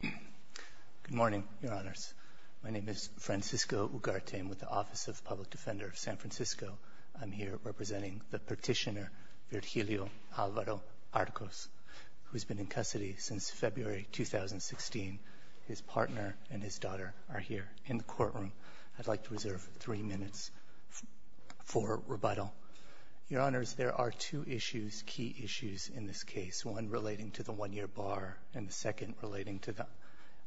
Good morning, Your Honors. My name is Francisco Ugarte. I'm with the Office of Public Defender of San Francisco. I'm here representing the petitioner, Virgilio Alvaro Arcos, who's been in custody since February 2016. His partner and his daughter are here in the courtroom. I'd like to reserve three minutes for rebuttal. Your Honors, there are two issues, key issues in this case, one relating to the one-year bar and the second relating to the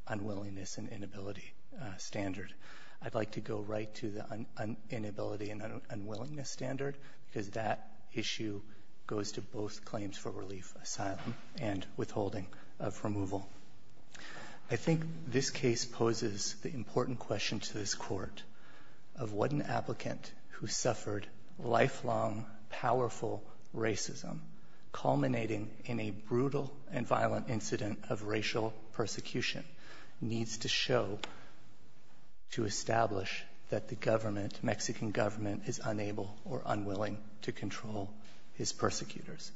unwillingness and inability standard. I'd like to go right to the inability and unwillingness standard because that issue goes to both claims for relief, asylum, and withholding of removal. I think this case poses the important question to this Court of what an applicant who suffered lifelong, powerful racism culminating in a brutal and violent incident of racial persecution needs to show to establish that the government, Mexican government, is unable or unwilling to control his persecutors.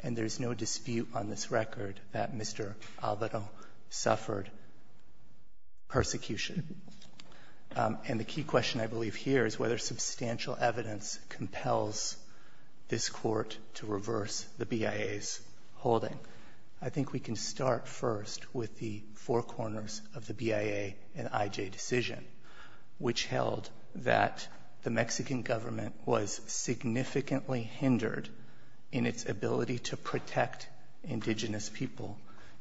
And there's no dispute on this record that Mr. Alvaro suffered persecution. And the key question, I believe, here is whether substantial evidence compels this Court to reverse the BIA's holding. I think we can start first with the four corners of the BIA and I.J. decision, which held that the Mexican government was significantly hindered in its ability to protect indigenous people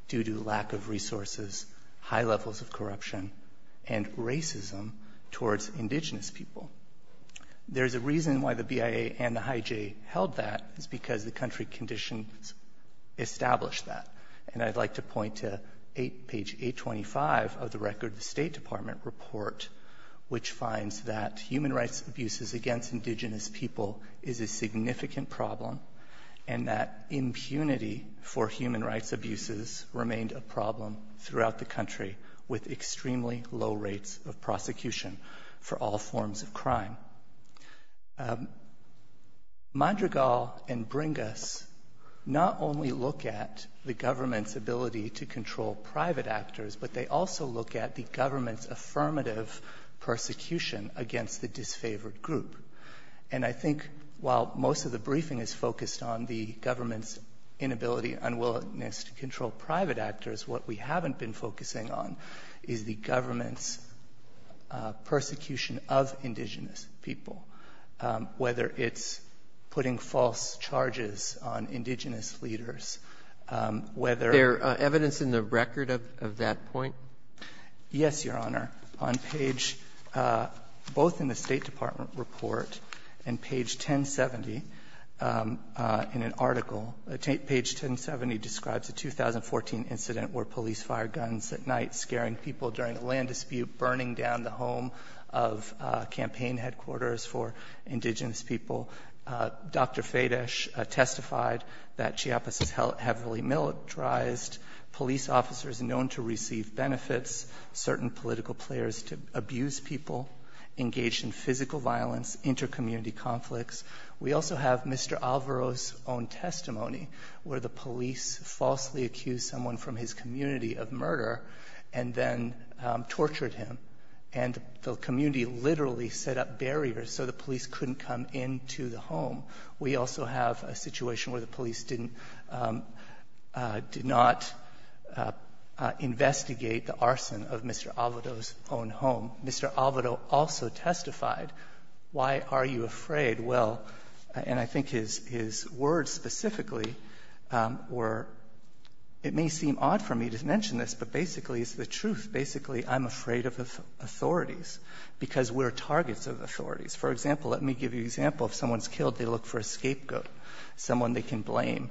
due to lack of resources, high levels of corruption, and racism towards indigenous people. There's a reason why the BIA and the I.J. held that. It's because the country conditions established that. And I'd like to point to page 825 of the record of the State Department report, which finds that human rights abuses against indigenous people is a significant problem and that impunity for human rights abuses remained a problem throughout the country with extremely low rates of prosecution for all forms of crime. Madrigal and Bringas not only look at the government's ability to control private actors, but they also look at the government's affirmative persecution against the disfavored group. And I think while most of the briefing is focused on the government's inability, unwillingness to control private actors, what we haven't been focusing on is the government's persecution of indigenous people, whether it's putting false charges on indigenous leaders, whether they're ---- Robertson, there evidence in the record of that point? Yes, Your Honor. On page ---- both in the State Department report and page 1070 in an article, page 1070 describes a 2014 incident where police fired guns at night, scaring people during a land dispute, burning down the home of campaign headquarters for indigenous people. Dr. Fadish testified that Chiapas' heavily militarized police officers known to receive benefits, certain political players to abuse people, engaged in physical violence, intercommunity conflicts. We also have Mr. Alvaro's own testimony where the police falsely accused someone from his community of murder and then tortured him. And the community literally set up barriers so the police couldn't come into the home. We also have a situation where the police didn't ---- did not investigate the arson of Mr. Alvaro's own home. Mr. Alvaro also testified, why are you afraid? Well, and I think his words specifically were, it may seem odd for me to mention this, but basically it's the truth. Basically, I'm afraid of authorities because we're targets of authorities. For example, let me give you an example. If someone's killed, they look for a scapegoat, someone they can blame.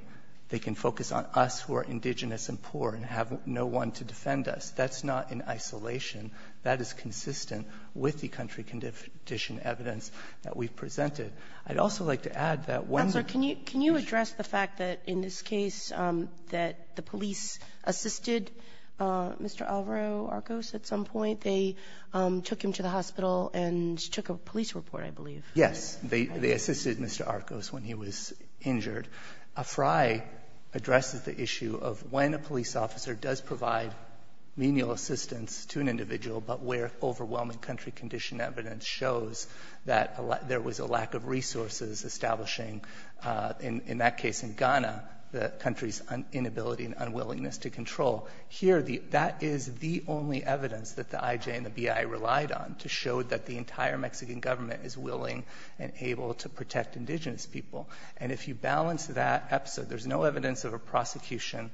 They can focus on us who are indigenous and poor and have no one to defend us. That's not in isolation. That is consistent with the country condition evidence that we've presented. I'd also like to add that when ---- Kagan. Can you address the fact that in this case that the police assisted Mr. Alvaro Arcos at some point? They took him to the hospital and took a police report, I believe. Yes. They assisted Mr. Arcos when he was injured. AFRI addresses the issue of when a police officer does provide menial assistance to an individual, but where overwhelming country condition evidence shows that there was a lack of resources establishing, in that case in Ghana, the country's inability and unwillingness to control. Here, that is the only evidence that the IJ and the BI relied on to show that the entire Mexican government is willing and able to protect indigenous people. And if you balance that episode, there's no evidence of a prosecution.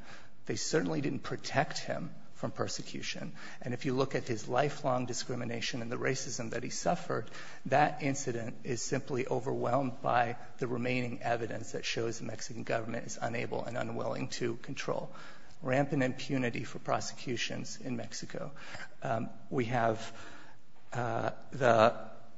They certainly didn't protect him from persecution. And if you look at his lifelong discrimination and the racism that he suffered, that incident is simply overwhelmed by the remaining evidence that shows the Mexican government is unable and unwilling to control. Rampant impunity for prosecutions in Mexico. We have the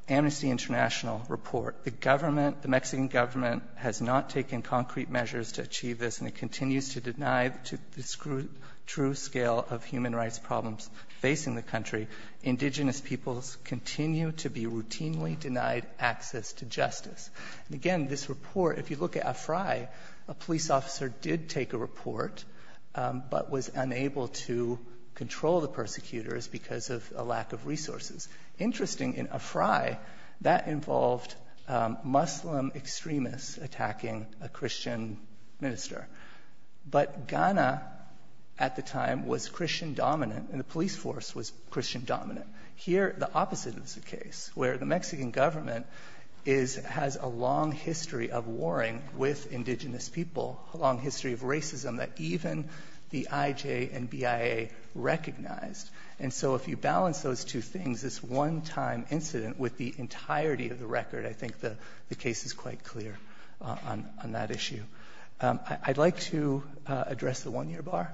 Amnesty International report. The government, the Mexican government has not taken concrete measures to achieve this, and it continues to deny the true scale of human rights problems facing the country. Indigenous peoples continue to be routinely denied access to justice. And again, this report, if you look at AFRI, a police officer did take a report, but was unable to control the persecutors because of a lack of resources. Interesting, in AFRI, that involved Muslim extremists attacking a Christian minister. But Ghana, at the time, was Christian-dominant, and the police force was Christian-dominant. Here, the opposite is the case, where the Mexican government has a long history of warring with indigenous people, a long history of racism that even the IJ and BIA recognized. And so if you balance those two things, this one-time incident with the entirety of the record, I think the case is quite clear on that issue. I'd like to address the one-year bar.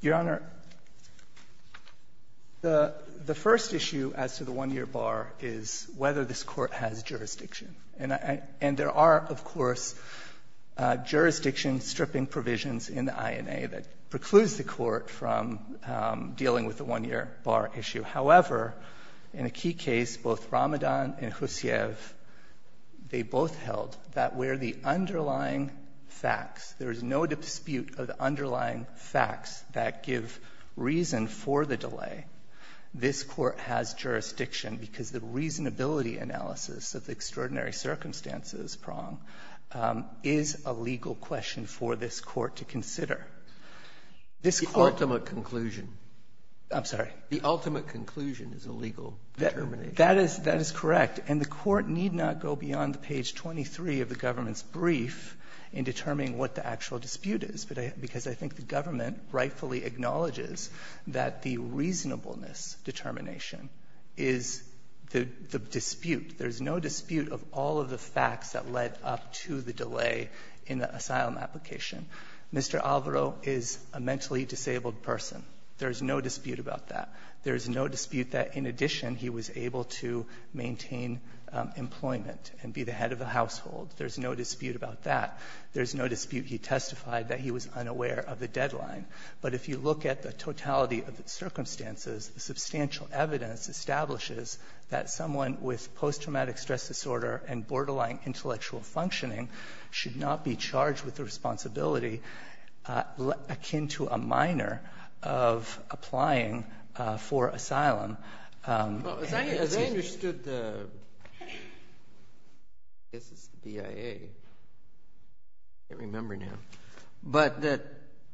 Your Honor, the first issue as to the one-year bar is whether this Court has jurisdiction. And there are, of course, jurisdiction-stripping provisions in the INA that precludes the Court from dealing with the one-year bar issue. However, in a key case, both Ramadan and Hussiev, they both held that where the underlying facts, there is no dispute of the underlying facts that give reason for the delay, this Court has jurisdiction, because the reasonability analysis of the extraordinary circumstances prong is a legal question for this Court to consider. This Court ---- Breyer. The ultimate conclusion. I'm sorry. The ultimate conclusion is a legal determination. That is correct. And the Court need not go beyond page 23 of the government's brief in determining what the actual dispute is, because I think the government rightfully acknowledges that the reasonableness determination is the dispute. There's no dispute of all of the facts that led up to the delay in the asylum application. Mr. Alvaro is a mentally disabled person. There's no dispute about that. There's no dispute that, in addition, he was able to maintain employment and be the head of the household. There's no dispute about that. There's no dispute he testified that he was unaware of the deadline. But if you look at the totality of the circumstances, the substantial evidence establishes that someone with post-traumatic stress disorder and borderline intellectual functioning should not be charged with the responsibility akin to a minor of applying for asylum. Well, as I understood the ---- I guess it's the BIA. I can't remember now. But that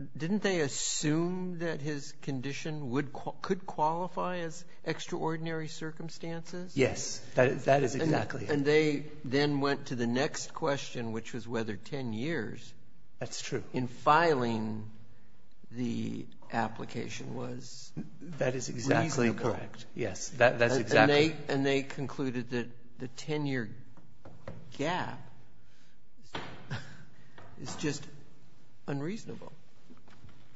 ---- didn't they assume that his condition would ---- could qualify as extraordinary circumstances? Yes. That is exactly it. And they then went to the next question, which was whether 10 years ---- That's true. ---- in filing the application was reasonable. That is exactly correct. Yes. That's exactly it. And they concluded that the 10-year gap is just unreasonable.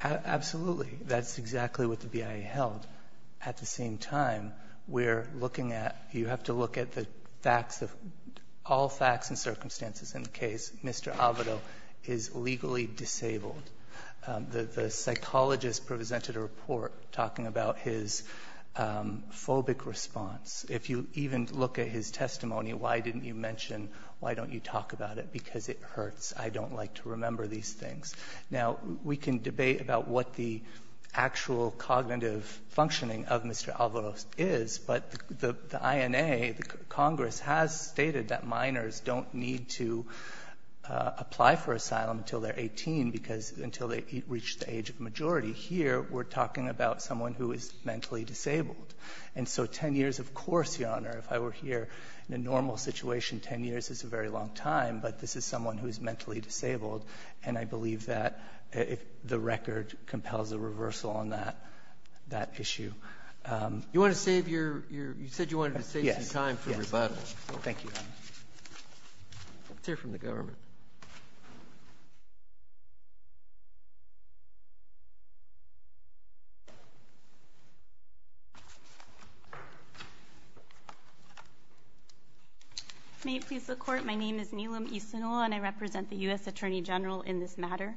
Absolutely. That's exactly what the BIA held. At the same time, we're looking at you have to look at the facts of all facts and circumstances in the case. Mr. Alvado is legally disabled. The psychologist presented a report talking about his phobic response. If you even look at his testimony, why didn't you mention, why don't you talk about it, because it hurts. I don't like to remember these things. Now, we can debate about what the actual cognitive functioning of Mr. Alvado is, but the INA, the Congress, has stated that minors don't need to apply for asylum until they're 18 because until they reach the age of majority. Here, we're talking about someone who is mentally disabled. And so 10 years, of course, Your Honor, if I were here in a normal situation, 10 years is a very long time. But this is someone who is mentally disabled. And I believe that the record compels a reversal on that issue. You want to save your – you said you wanted to save some time for rebuttal. Thank you, Your Honor. Let's hear from the government. May it please the Court, my name is Nilam Isinol and I represent the U.S. Attorney General in this matter.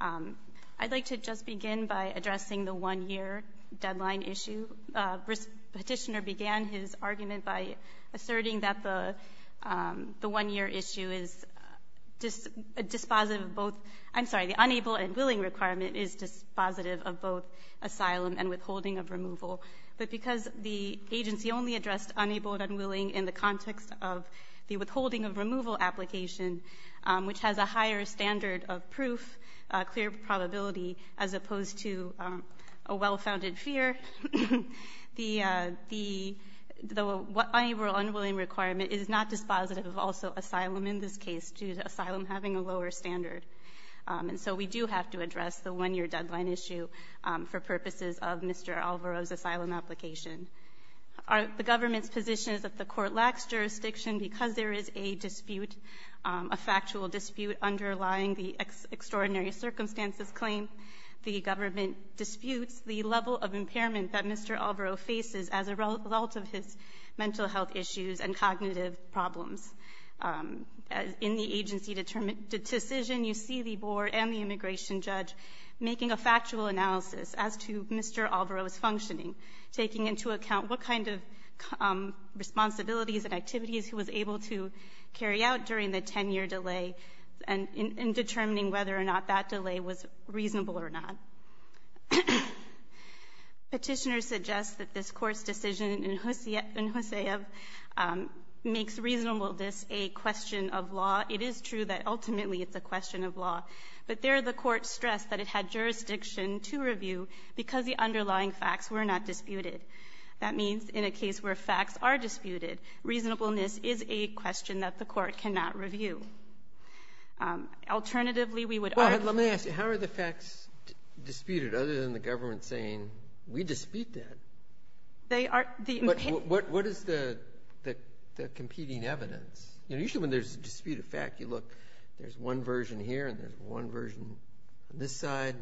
I'd like to just begin by addressing the one-year deadline issue. Petitioner began his argument by asserting that the one-year issue is dispositive of both – I'm sorry, the unable and willing requirement is dispositive of both asylum and withholding of removal. But because the agency only addressed unable and unwilling in the context of the withholding of removal application, which has a higher standard of proof, clear probability, as opposed to a well-founded fear, the unable and unwilling requirement is not dispositive of also asylum in this case, due to asylum having a lower standard. And so we do have to address the one-year deadline issue for purposes of Mr. Alvaro's asylum application. The government's position is that the Court lacks jurisdiction because there is a dispute, a factual dispute underlying the extraordinary circumstances claim. The government disputes the level of impairment that Mr. Alvaro faces as a result of his mental health issues and cognitive problems. In the agency decision, you see the Board and the immigration judge making a factual analysis as to Mr. Alvaro's functioning, taking into account what kind of responsibilities and activities he was able to carry out during the 10-year delay and determining whether or not that delay was reasonable or not. Petitioner suggests that this Court's decision in Hosea makes reasonableness a question of law. It is true that ultimately it's a question of law. But there, the Court stressed that it had jurisdiction to review because the underlying facts were not disputed. That means in a case where facts are disputed, reasonableness is a question that the Court cannot review. But if it's disputed, other than the government saying, we dispute that, what is the competing evidence? You know, usually when there's a dispute of fact, you look, there's one version here and there's one version on this side,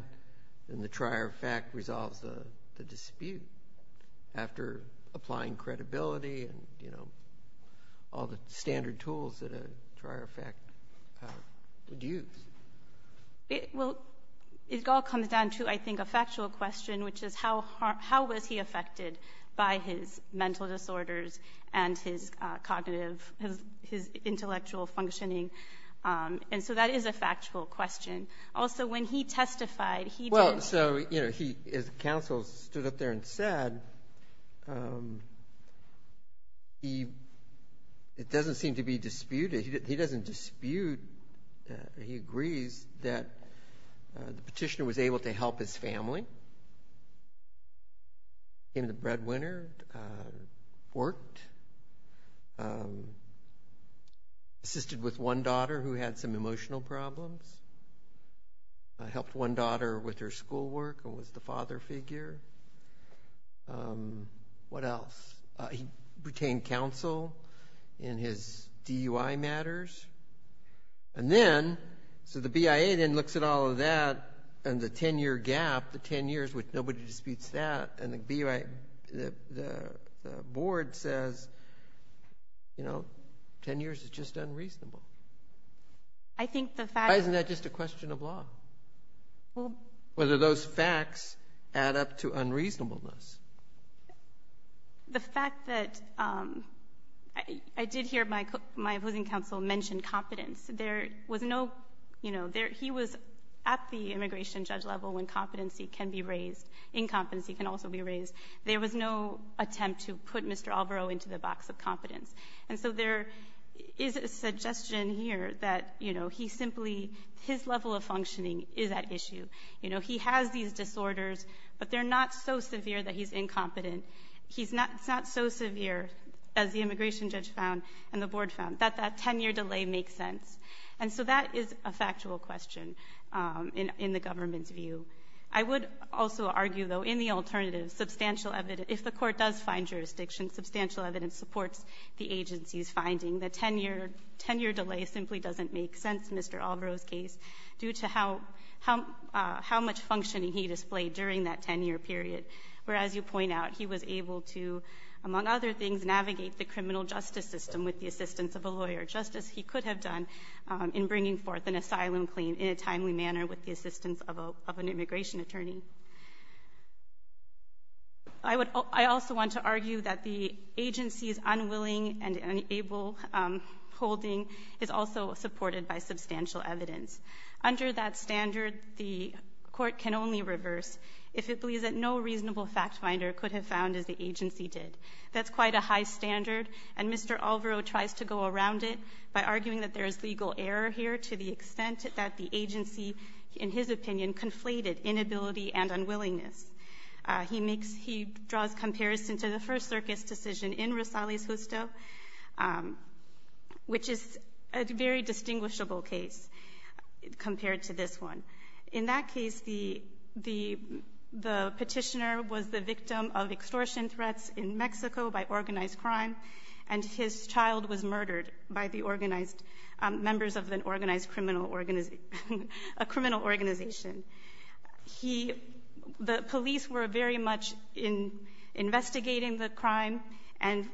and the trier of fact resolves the dispute after applying credibility and, you know, all the standard tools that a trier of fact would use. Well, it all comes down to, I think, a factual question, which is how was he affected by his mental disorders and his cognitive, his intellectual functioning? And so that is a factual question. Also, when he testified, he did... Well, so, you know, his counsel stood up there and said, it doesn't seem to be that the petitioner was able to help his family, came to Breadwinner, worked, assisted with one daughter who had some emotional problems, helped one daughter with her schoolwork and was the father figure. What else? He retained counsel in his DUI matters. And then, so the BIA then looks at all of that and the 10-year gap, the 10 years with nobody disputes that, and the BIA, the board says, you know, 10 years is just unreasonable. I think the fact... Why isn't that just a question of law? Whether those facts add up to unreasonableness. The fact that I did hear my opposing counsel mention competence. There was no, you know, he was at the immigration judge level when competency can be raised. Incompetency can also be raised. There was no attempt to put Mr. Alvaro into the box of competence. And so there is a suggestion here that, you know, he simply, his level of functioning is at issue. You know, he has these disorders, but they're not so severe that he's incompetent. It's not so severe, as the immigration judge found and the board found, that that 10-year delay makes sense. And so that is a factual question in the government's view. I would also argue, though, in the alternative, substantial evidence. If the court does find jurisdiction, substantial evidence supports the agency's finding. The 10-year delay simply doesn't make sense in Mr. Alvaro's case due to how much functioning he displayed during that 10-year period. Whereas, you point out, he was able to, among other things, navigate the criminal justice system with the assistance of a lawyer, just as he could have done in bringing forth an asylum claim in a timely manner with the assistance of an immigration attorney. I also want to argue that the agency's unwilling and unable holding is also supported by substantial evidence. Under that standard, the court can only reverse if it believes that no reasonable fact finder could have found, as the agency did. That's quite a high standard, and Mr. Alvaro tries to go around it by arguing that there is legal error here to the extent that the agency, in his opinion, conflated inability and unwillingness. He draws comparison to the first circus decision in Rosales-Justo, which is a very distinguishable case compared to this one. In that case, the petitioner was the victim of extortion threats in Mexico by organized crime, and his child was murdered by members of a criminal organization. The police were very much investigating the crime, but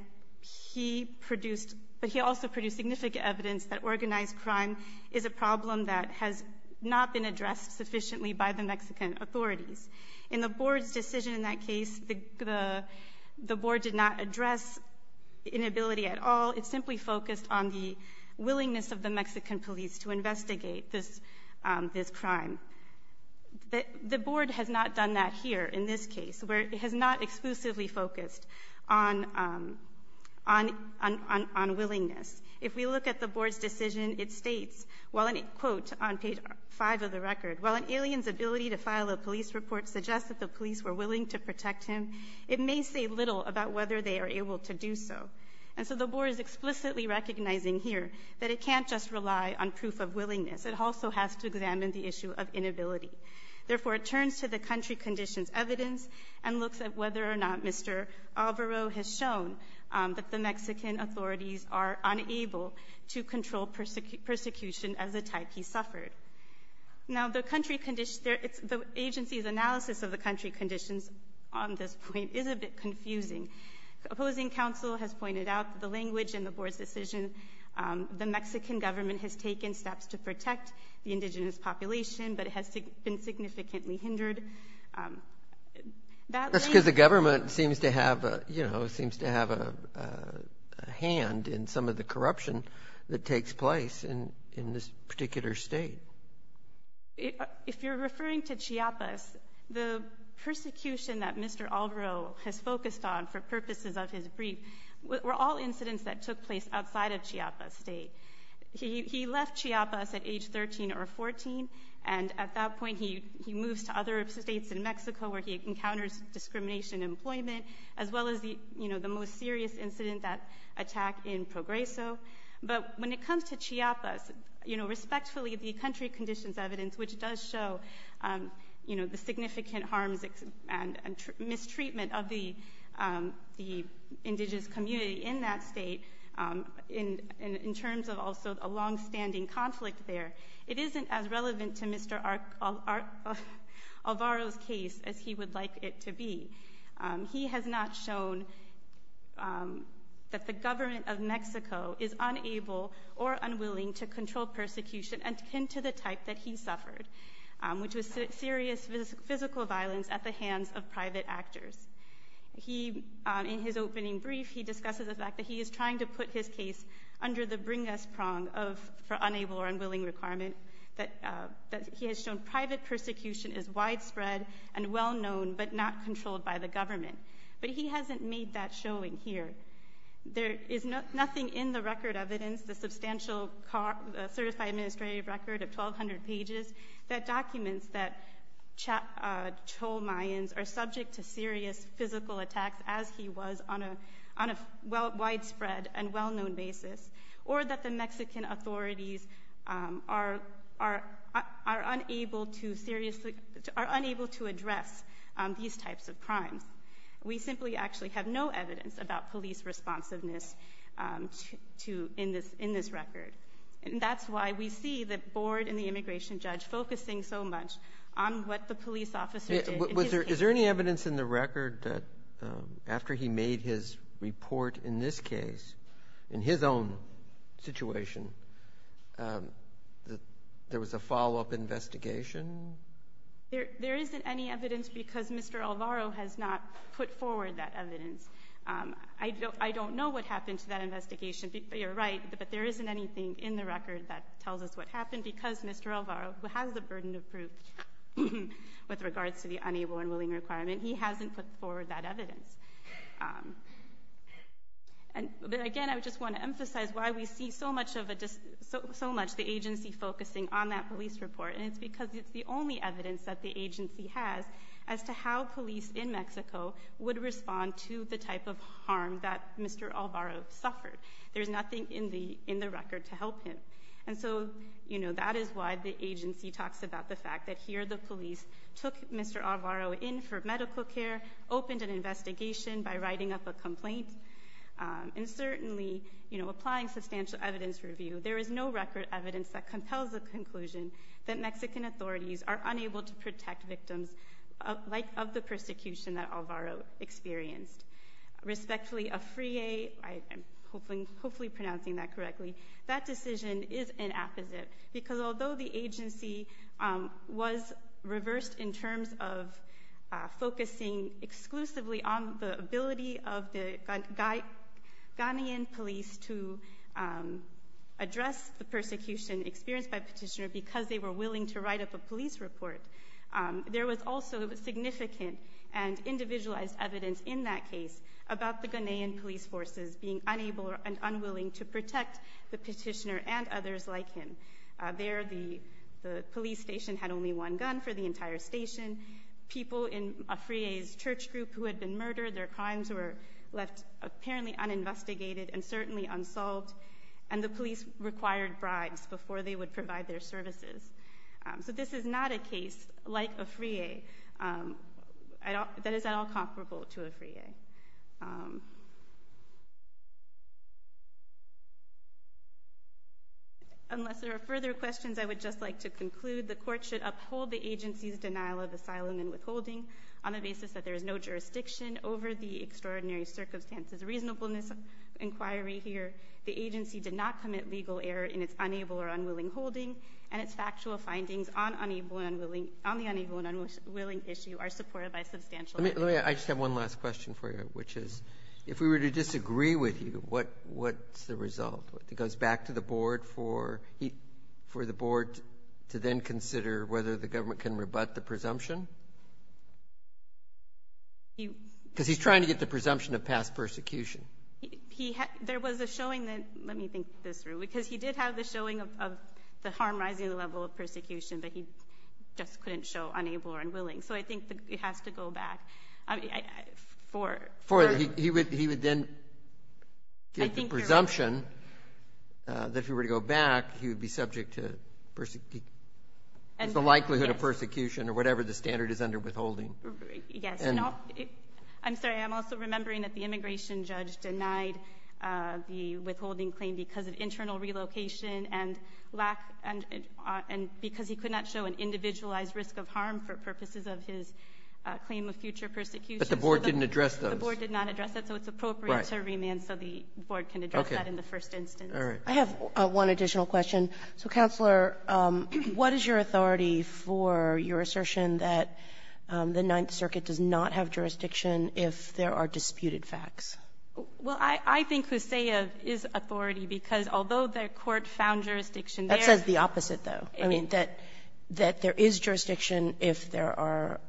he also produced significant evidence that organized crime is a problem that has not been addressed sufficiently by the Mexican authorities. In the board's decision in that case, the board did not address inability at all. It simply focused on the willingness of the Mexican police to investigate this crime. The board has not done that here in this case, where it has not exclusively focused on willingness. If we look at the board's decision, it states, quote, on page 5 of the record, while an alien's ability to file a police report suggests that the police were willing to protect him, it may say little about whether they are able to do so. And so the board is explicitly recognizing here that it can't just rely on proof of willingness. It also has to examine the issue of inability. Therefore, it turns to the country conditions evidence and looks at whether or not Mr. Alvaro has shown that the Mexican authorities are unable to control persecution as the type he suffered. Now, the agency's analysis of the country conditions on this point is a bit confusing. Opposing counsel has pointed out the language in the board's decision. The Mexican government has taken steps to protect the indigenous population, but it has been significantly hindered. That's because the government seems to have a hand in some of the corruption that takes place in this particular state. If you're referring to Chiapas, the persecution that Mr. Alvaro has focused on for purposes of his brief were all incidents that took place outside of Chiapas State. He left Chiapas at age 13 or 14, and at that point he moves to other states in Mexico where he encounters discrimination in employment as well as the most serious incident, that attack in Progreso. But when it comes to Chiapas, respectfully, the country conditions evidence, which does show the significant harms and mistreatment of the indigenous community in that state in terms of also a longstanding conflict there, it isn't as relevant to Mr. Alvaro's case as he would like it to be. He has not shown that the government of Mexico is unable or unwilling to control persecution akin to the type that he suffered, which was serious physical violence at the hands of private actors. In his opening brief, he discusses the fact that he is trying to put his case under the bring us prong for unable or unwilling requirement, that he has shown private persecution is widespread and well known but not controlled by the government. But he hasn't made that showing here. There is nothing in the record evidence, the substantial certified administrative record of 1,200 pages, that documents that Cholmayans are subject to serious physical attacks as he was on a widespread and well-known basis or that the Mexican authorities are unable to address these types of crimes. We simply actually have no evidence about police responsiveness in this record. That's why we see the board and the immigration judge focusing so much on what the police officer did in his case. In his own situation, there was a follow-up investigation? There isn't any evidence because Mr. Alvaro has not put forward that evidence. I don't know what happened to that investigation. You're right, but there isn't anything in the record that tells us what happened because Mr. Alvaro, who has the burden of proof with regards to the unable and willing requirement, he hasn't put forward that evidence. Again, I just want to emphasize why we see so much the agency focusing on that police report. It's because it's the only evidence that the agency has as to how police in Mexico would respond to the type of harm that Mr. Alvaro suffered. There's nothing in the record to help him. That is why the agency talks about the fact that here the police took Mr. Alvaro's investigation by writing up a complaint and certainly applying substantial evidence review. There is no record evidence that compels the conclusion that Mexican authorities are unable to protect victims of the persecution that Alvaro experienced. Respectfully, AFRIE, I am hopefully pronouncing that correctly, that decision is an apposite because although the agency was reversed in terms of focusing exclusively on the ability of the Ghanaian police to address the persecution experienced by Petitioner because they were willing to write up a police report, there was also significant and individualized evidence in that case about the Ghanaian police forces being unable and unwilling to protect the Petitioner and others like him. There the police station had only one gun for the entire station. People in AFRIE's church group who had been murdered, their crimes were left apparently uninvestigated and certainly unsolved. And the police required bribes before they would provide their services. So this is not a case like AFRIE that is at all comparable to AFRIE. Unless there are further questions, I would just like to conclude the court should uphold the agency's denial of asylum and withholding on the basis that there is no jurisdiction over the extraordinary circumstances reasonable in this inquiry here. The agency did not commit legal error in its unable or unwilling holding. And its factual findings on the unable and unwilling issue are supported by substantial evidence. I just have one last question for you, which is if we were to disagree with you, what's the result? It goes back to the board for the board to then consider whether the government can rebut the presumption? Because he's trying to get the presumption of past persecution. There was a showing that, let me think this through, because he did have the showing of the harm rising level of persecution, but he just couldn't show unable or unwilling. So I think it has to go back. He would then get the presumption that if he were to go back, he would be subject to the likelihood of persecution or whatever the standard is under withholding. Yes. I'm sorry. I'm also remembering that the immigration judge denied the withholding claim because of internal relocation and because he could not show an individualized risk of harm for purposes of his claim of future persecution. But the board didn't address those? The board did not address that. So it's appropriate to remand so the board can address that in the first instance. Okay. All right. I have one additional question. So, Counselor, what is your authority for your assertion that the Ninth Circuit does not have jurisdiction if there are disputed facts? Well, I think Hussayev is authority, because although the Court found jurisdiction there. That says the opposite, though. I mean, that there is jurisdiction if there are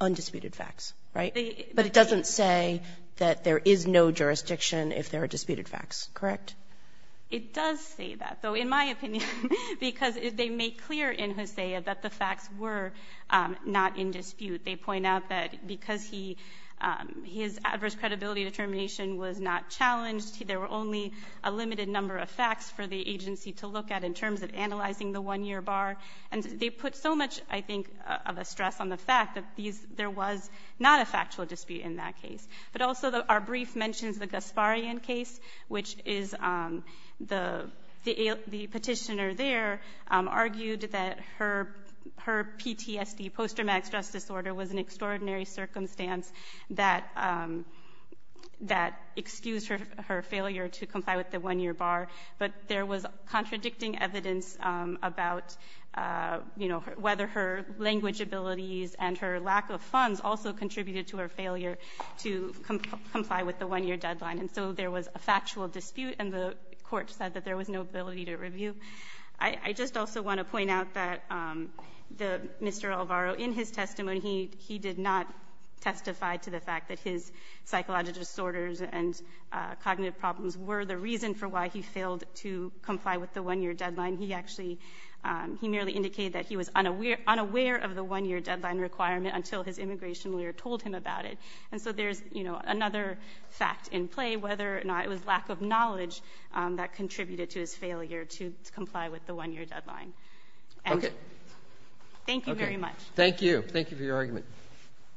undisputed facts, right? But it doesn't say that there is no jurisdiction if there are disputed facts, correct? It does say that, though, in my opinion, because they make clear in Hussayev that the facts were not in dispute. They point out that because he his adverse credibility determination was not challenged, there were only a limited number of facts for the agency to look at in terms of analyzing the one-year bar. And they put so much, I think, of a stress on the fact that there was not a factual dispute in that case. But also our brief mentions the Gasparian case, which is the petitioner there argued that her PTSD, post-traumatic stress disorder, was an extraordinary circumstance that excused her failure to comply with the one-year bar. But there was contradicting evidence about, you know, whether her language abilities and her lack of funds also contributed to her failure to comply with the one-year deadline. And so there was a factual dispute, and the Court said that there was no ability to review. I just also want to point out that Mr. Alvaro, in his testimony, he did not testify to the fact that his psychological disorders and cognitive problems were the reason for why he failed to comply with the one-year deadline. He actually, he merely indicated that he was unaware of the one-year deadline requirement until his immigration lawyer told him about it. And so there's, you know, another fact in play, whether or not it was lack of knowledge that contributed to his failure to comply with the one-year deadline. And thank you very much. Thank you. Thank you for your argument.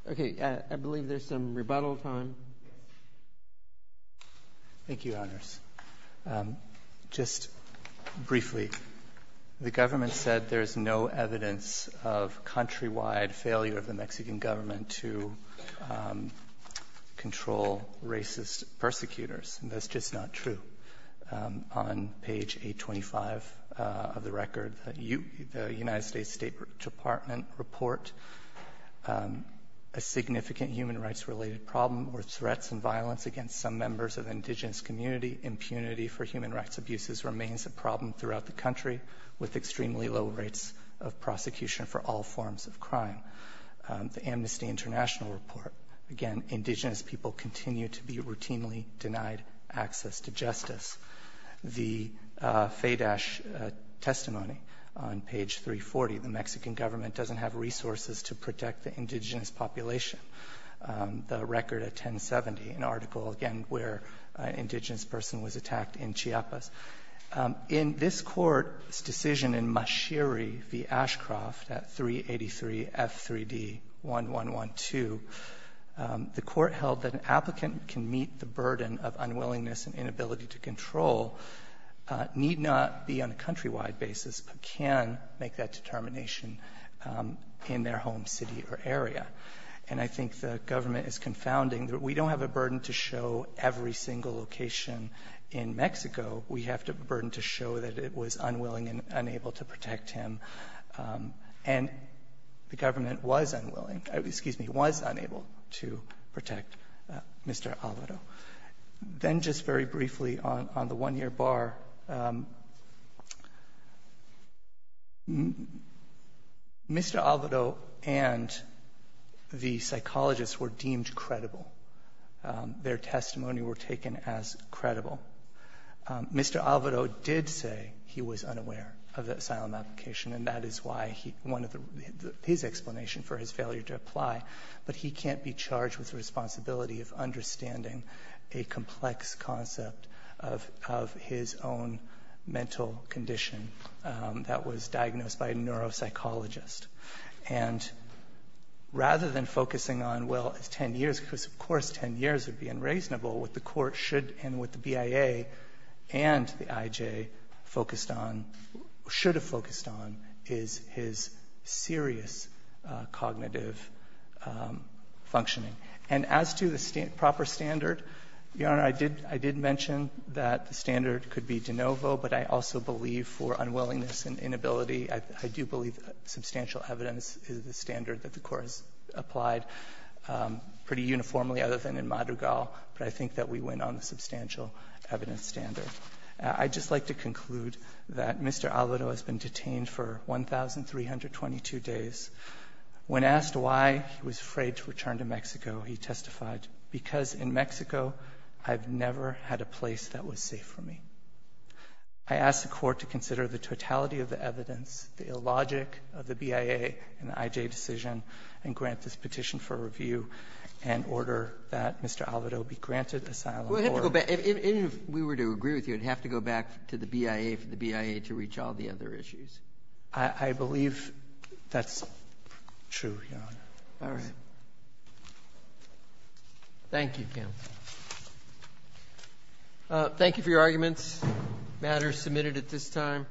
Okay. I believe there's some rebuttal time. Thank you, Your Honors. Just briefly, the government said there's no evidence of countrywide failure of the Mexican government to control racist persecutors, and that's just not true. On page 825 of the record, the U.S. State Department report, a significant human rights-related problem or threats and violence against some members of indigenous community, impunity for human rights abuses remains a problem throughout the country with extremely low rates of prosecution for all forms of crime. The Amnesty International report, again, indigenous people continue to be routinely denied access to justice. The FADASH testimony on page 340, the Mexican government doesn't have resources to protect the indigenous population. The record at 1070, an article, again, where an indigenous person was attacked in Chiapas. In this Court's decision in Mashiri v. Ashcroft at 383 F3D1112, the Court held that an applicant can meet the burden of unwillingness and inability to control, need not be on a countrywide basis, but can make that determination in their home city or area. And I think the government is confounding. We don't have a burden to show every single location in Mexico. We have a burden to show that it was unwilling and unable to protect him. And the government was unwilling, excuse me, was unable to protect Mr. Alvaro. Then just very briefly on the one-year bar, Mr. Alvaro and the psychologists were deemed credible. Their testimony were taken as credible. Mr. Alvaro did say he was unaware of the asylum application, and that is why he wanted his explanation for his failure to apply. But he can't be charged with the responsibility of understanding a complex concept of his own mental condition that was diagnosed by a neuropsychologist. And rather than focusing on, well, 10 years, because of course 10 years would be unreasonable, what the Court should and what the BIA and the IJ focused on, should have focused on, is his serious cognitive functioning. And as to the proper standard, Your Honor, I did mention that the standard could be de novo, but I also believe for unwillingness and inability, I do believe substantial evidence is the standard that the Court has applied pretty uniformly other than in Madrigal, but I think that we went on the substantial evidence standard. I'd just like to conclude that Mr. Alvaro has been detained for 1,322 days. When asked why he was afraid to return to Mexico, he testified, because in Mexico, I've never had a place that was safe for me. I ask the Court to consider the totality of the evidence, the illogic of the BIA and the IJ decision, and grant this petition for review, and order that Mr. Alvaro be granted asylum or to be released. I do agree with you, I'd have to go back to the BIA for the BIA to reach all the other issues. I believe that's true, Your Honor. All right. Thank you, Ken. Thank you for your arguments. The matter is submitted at this time.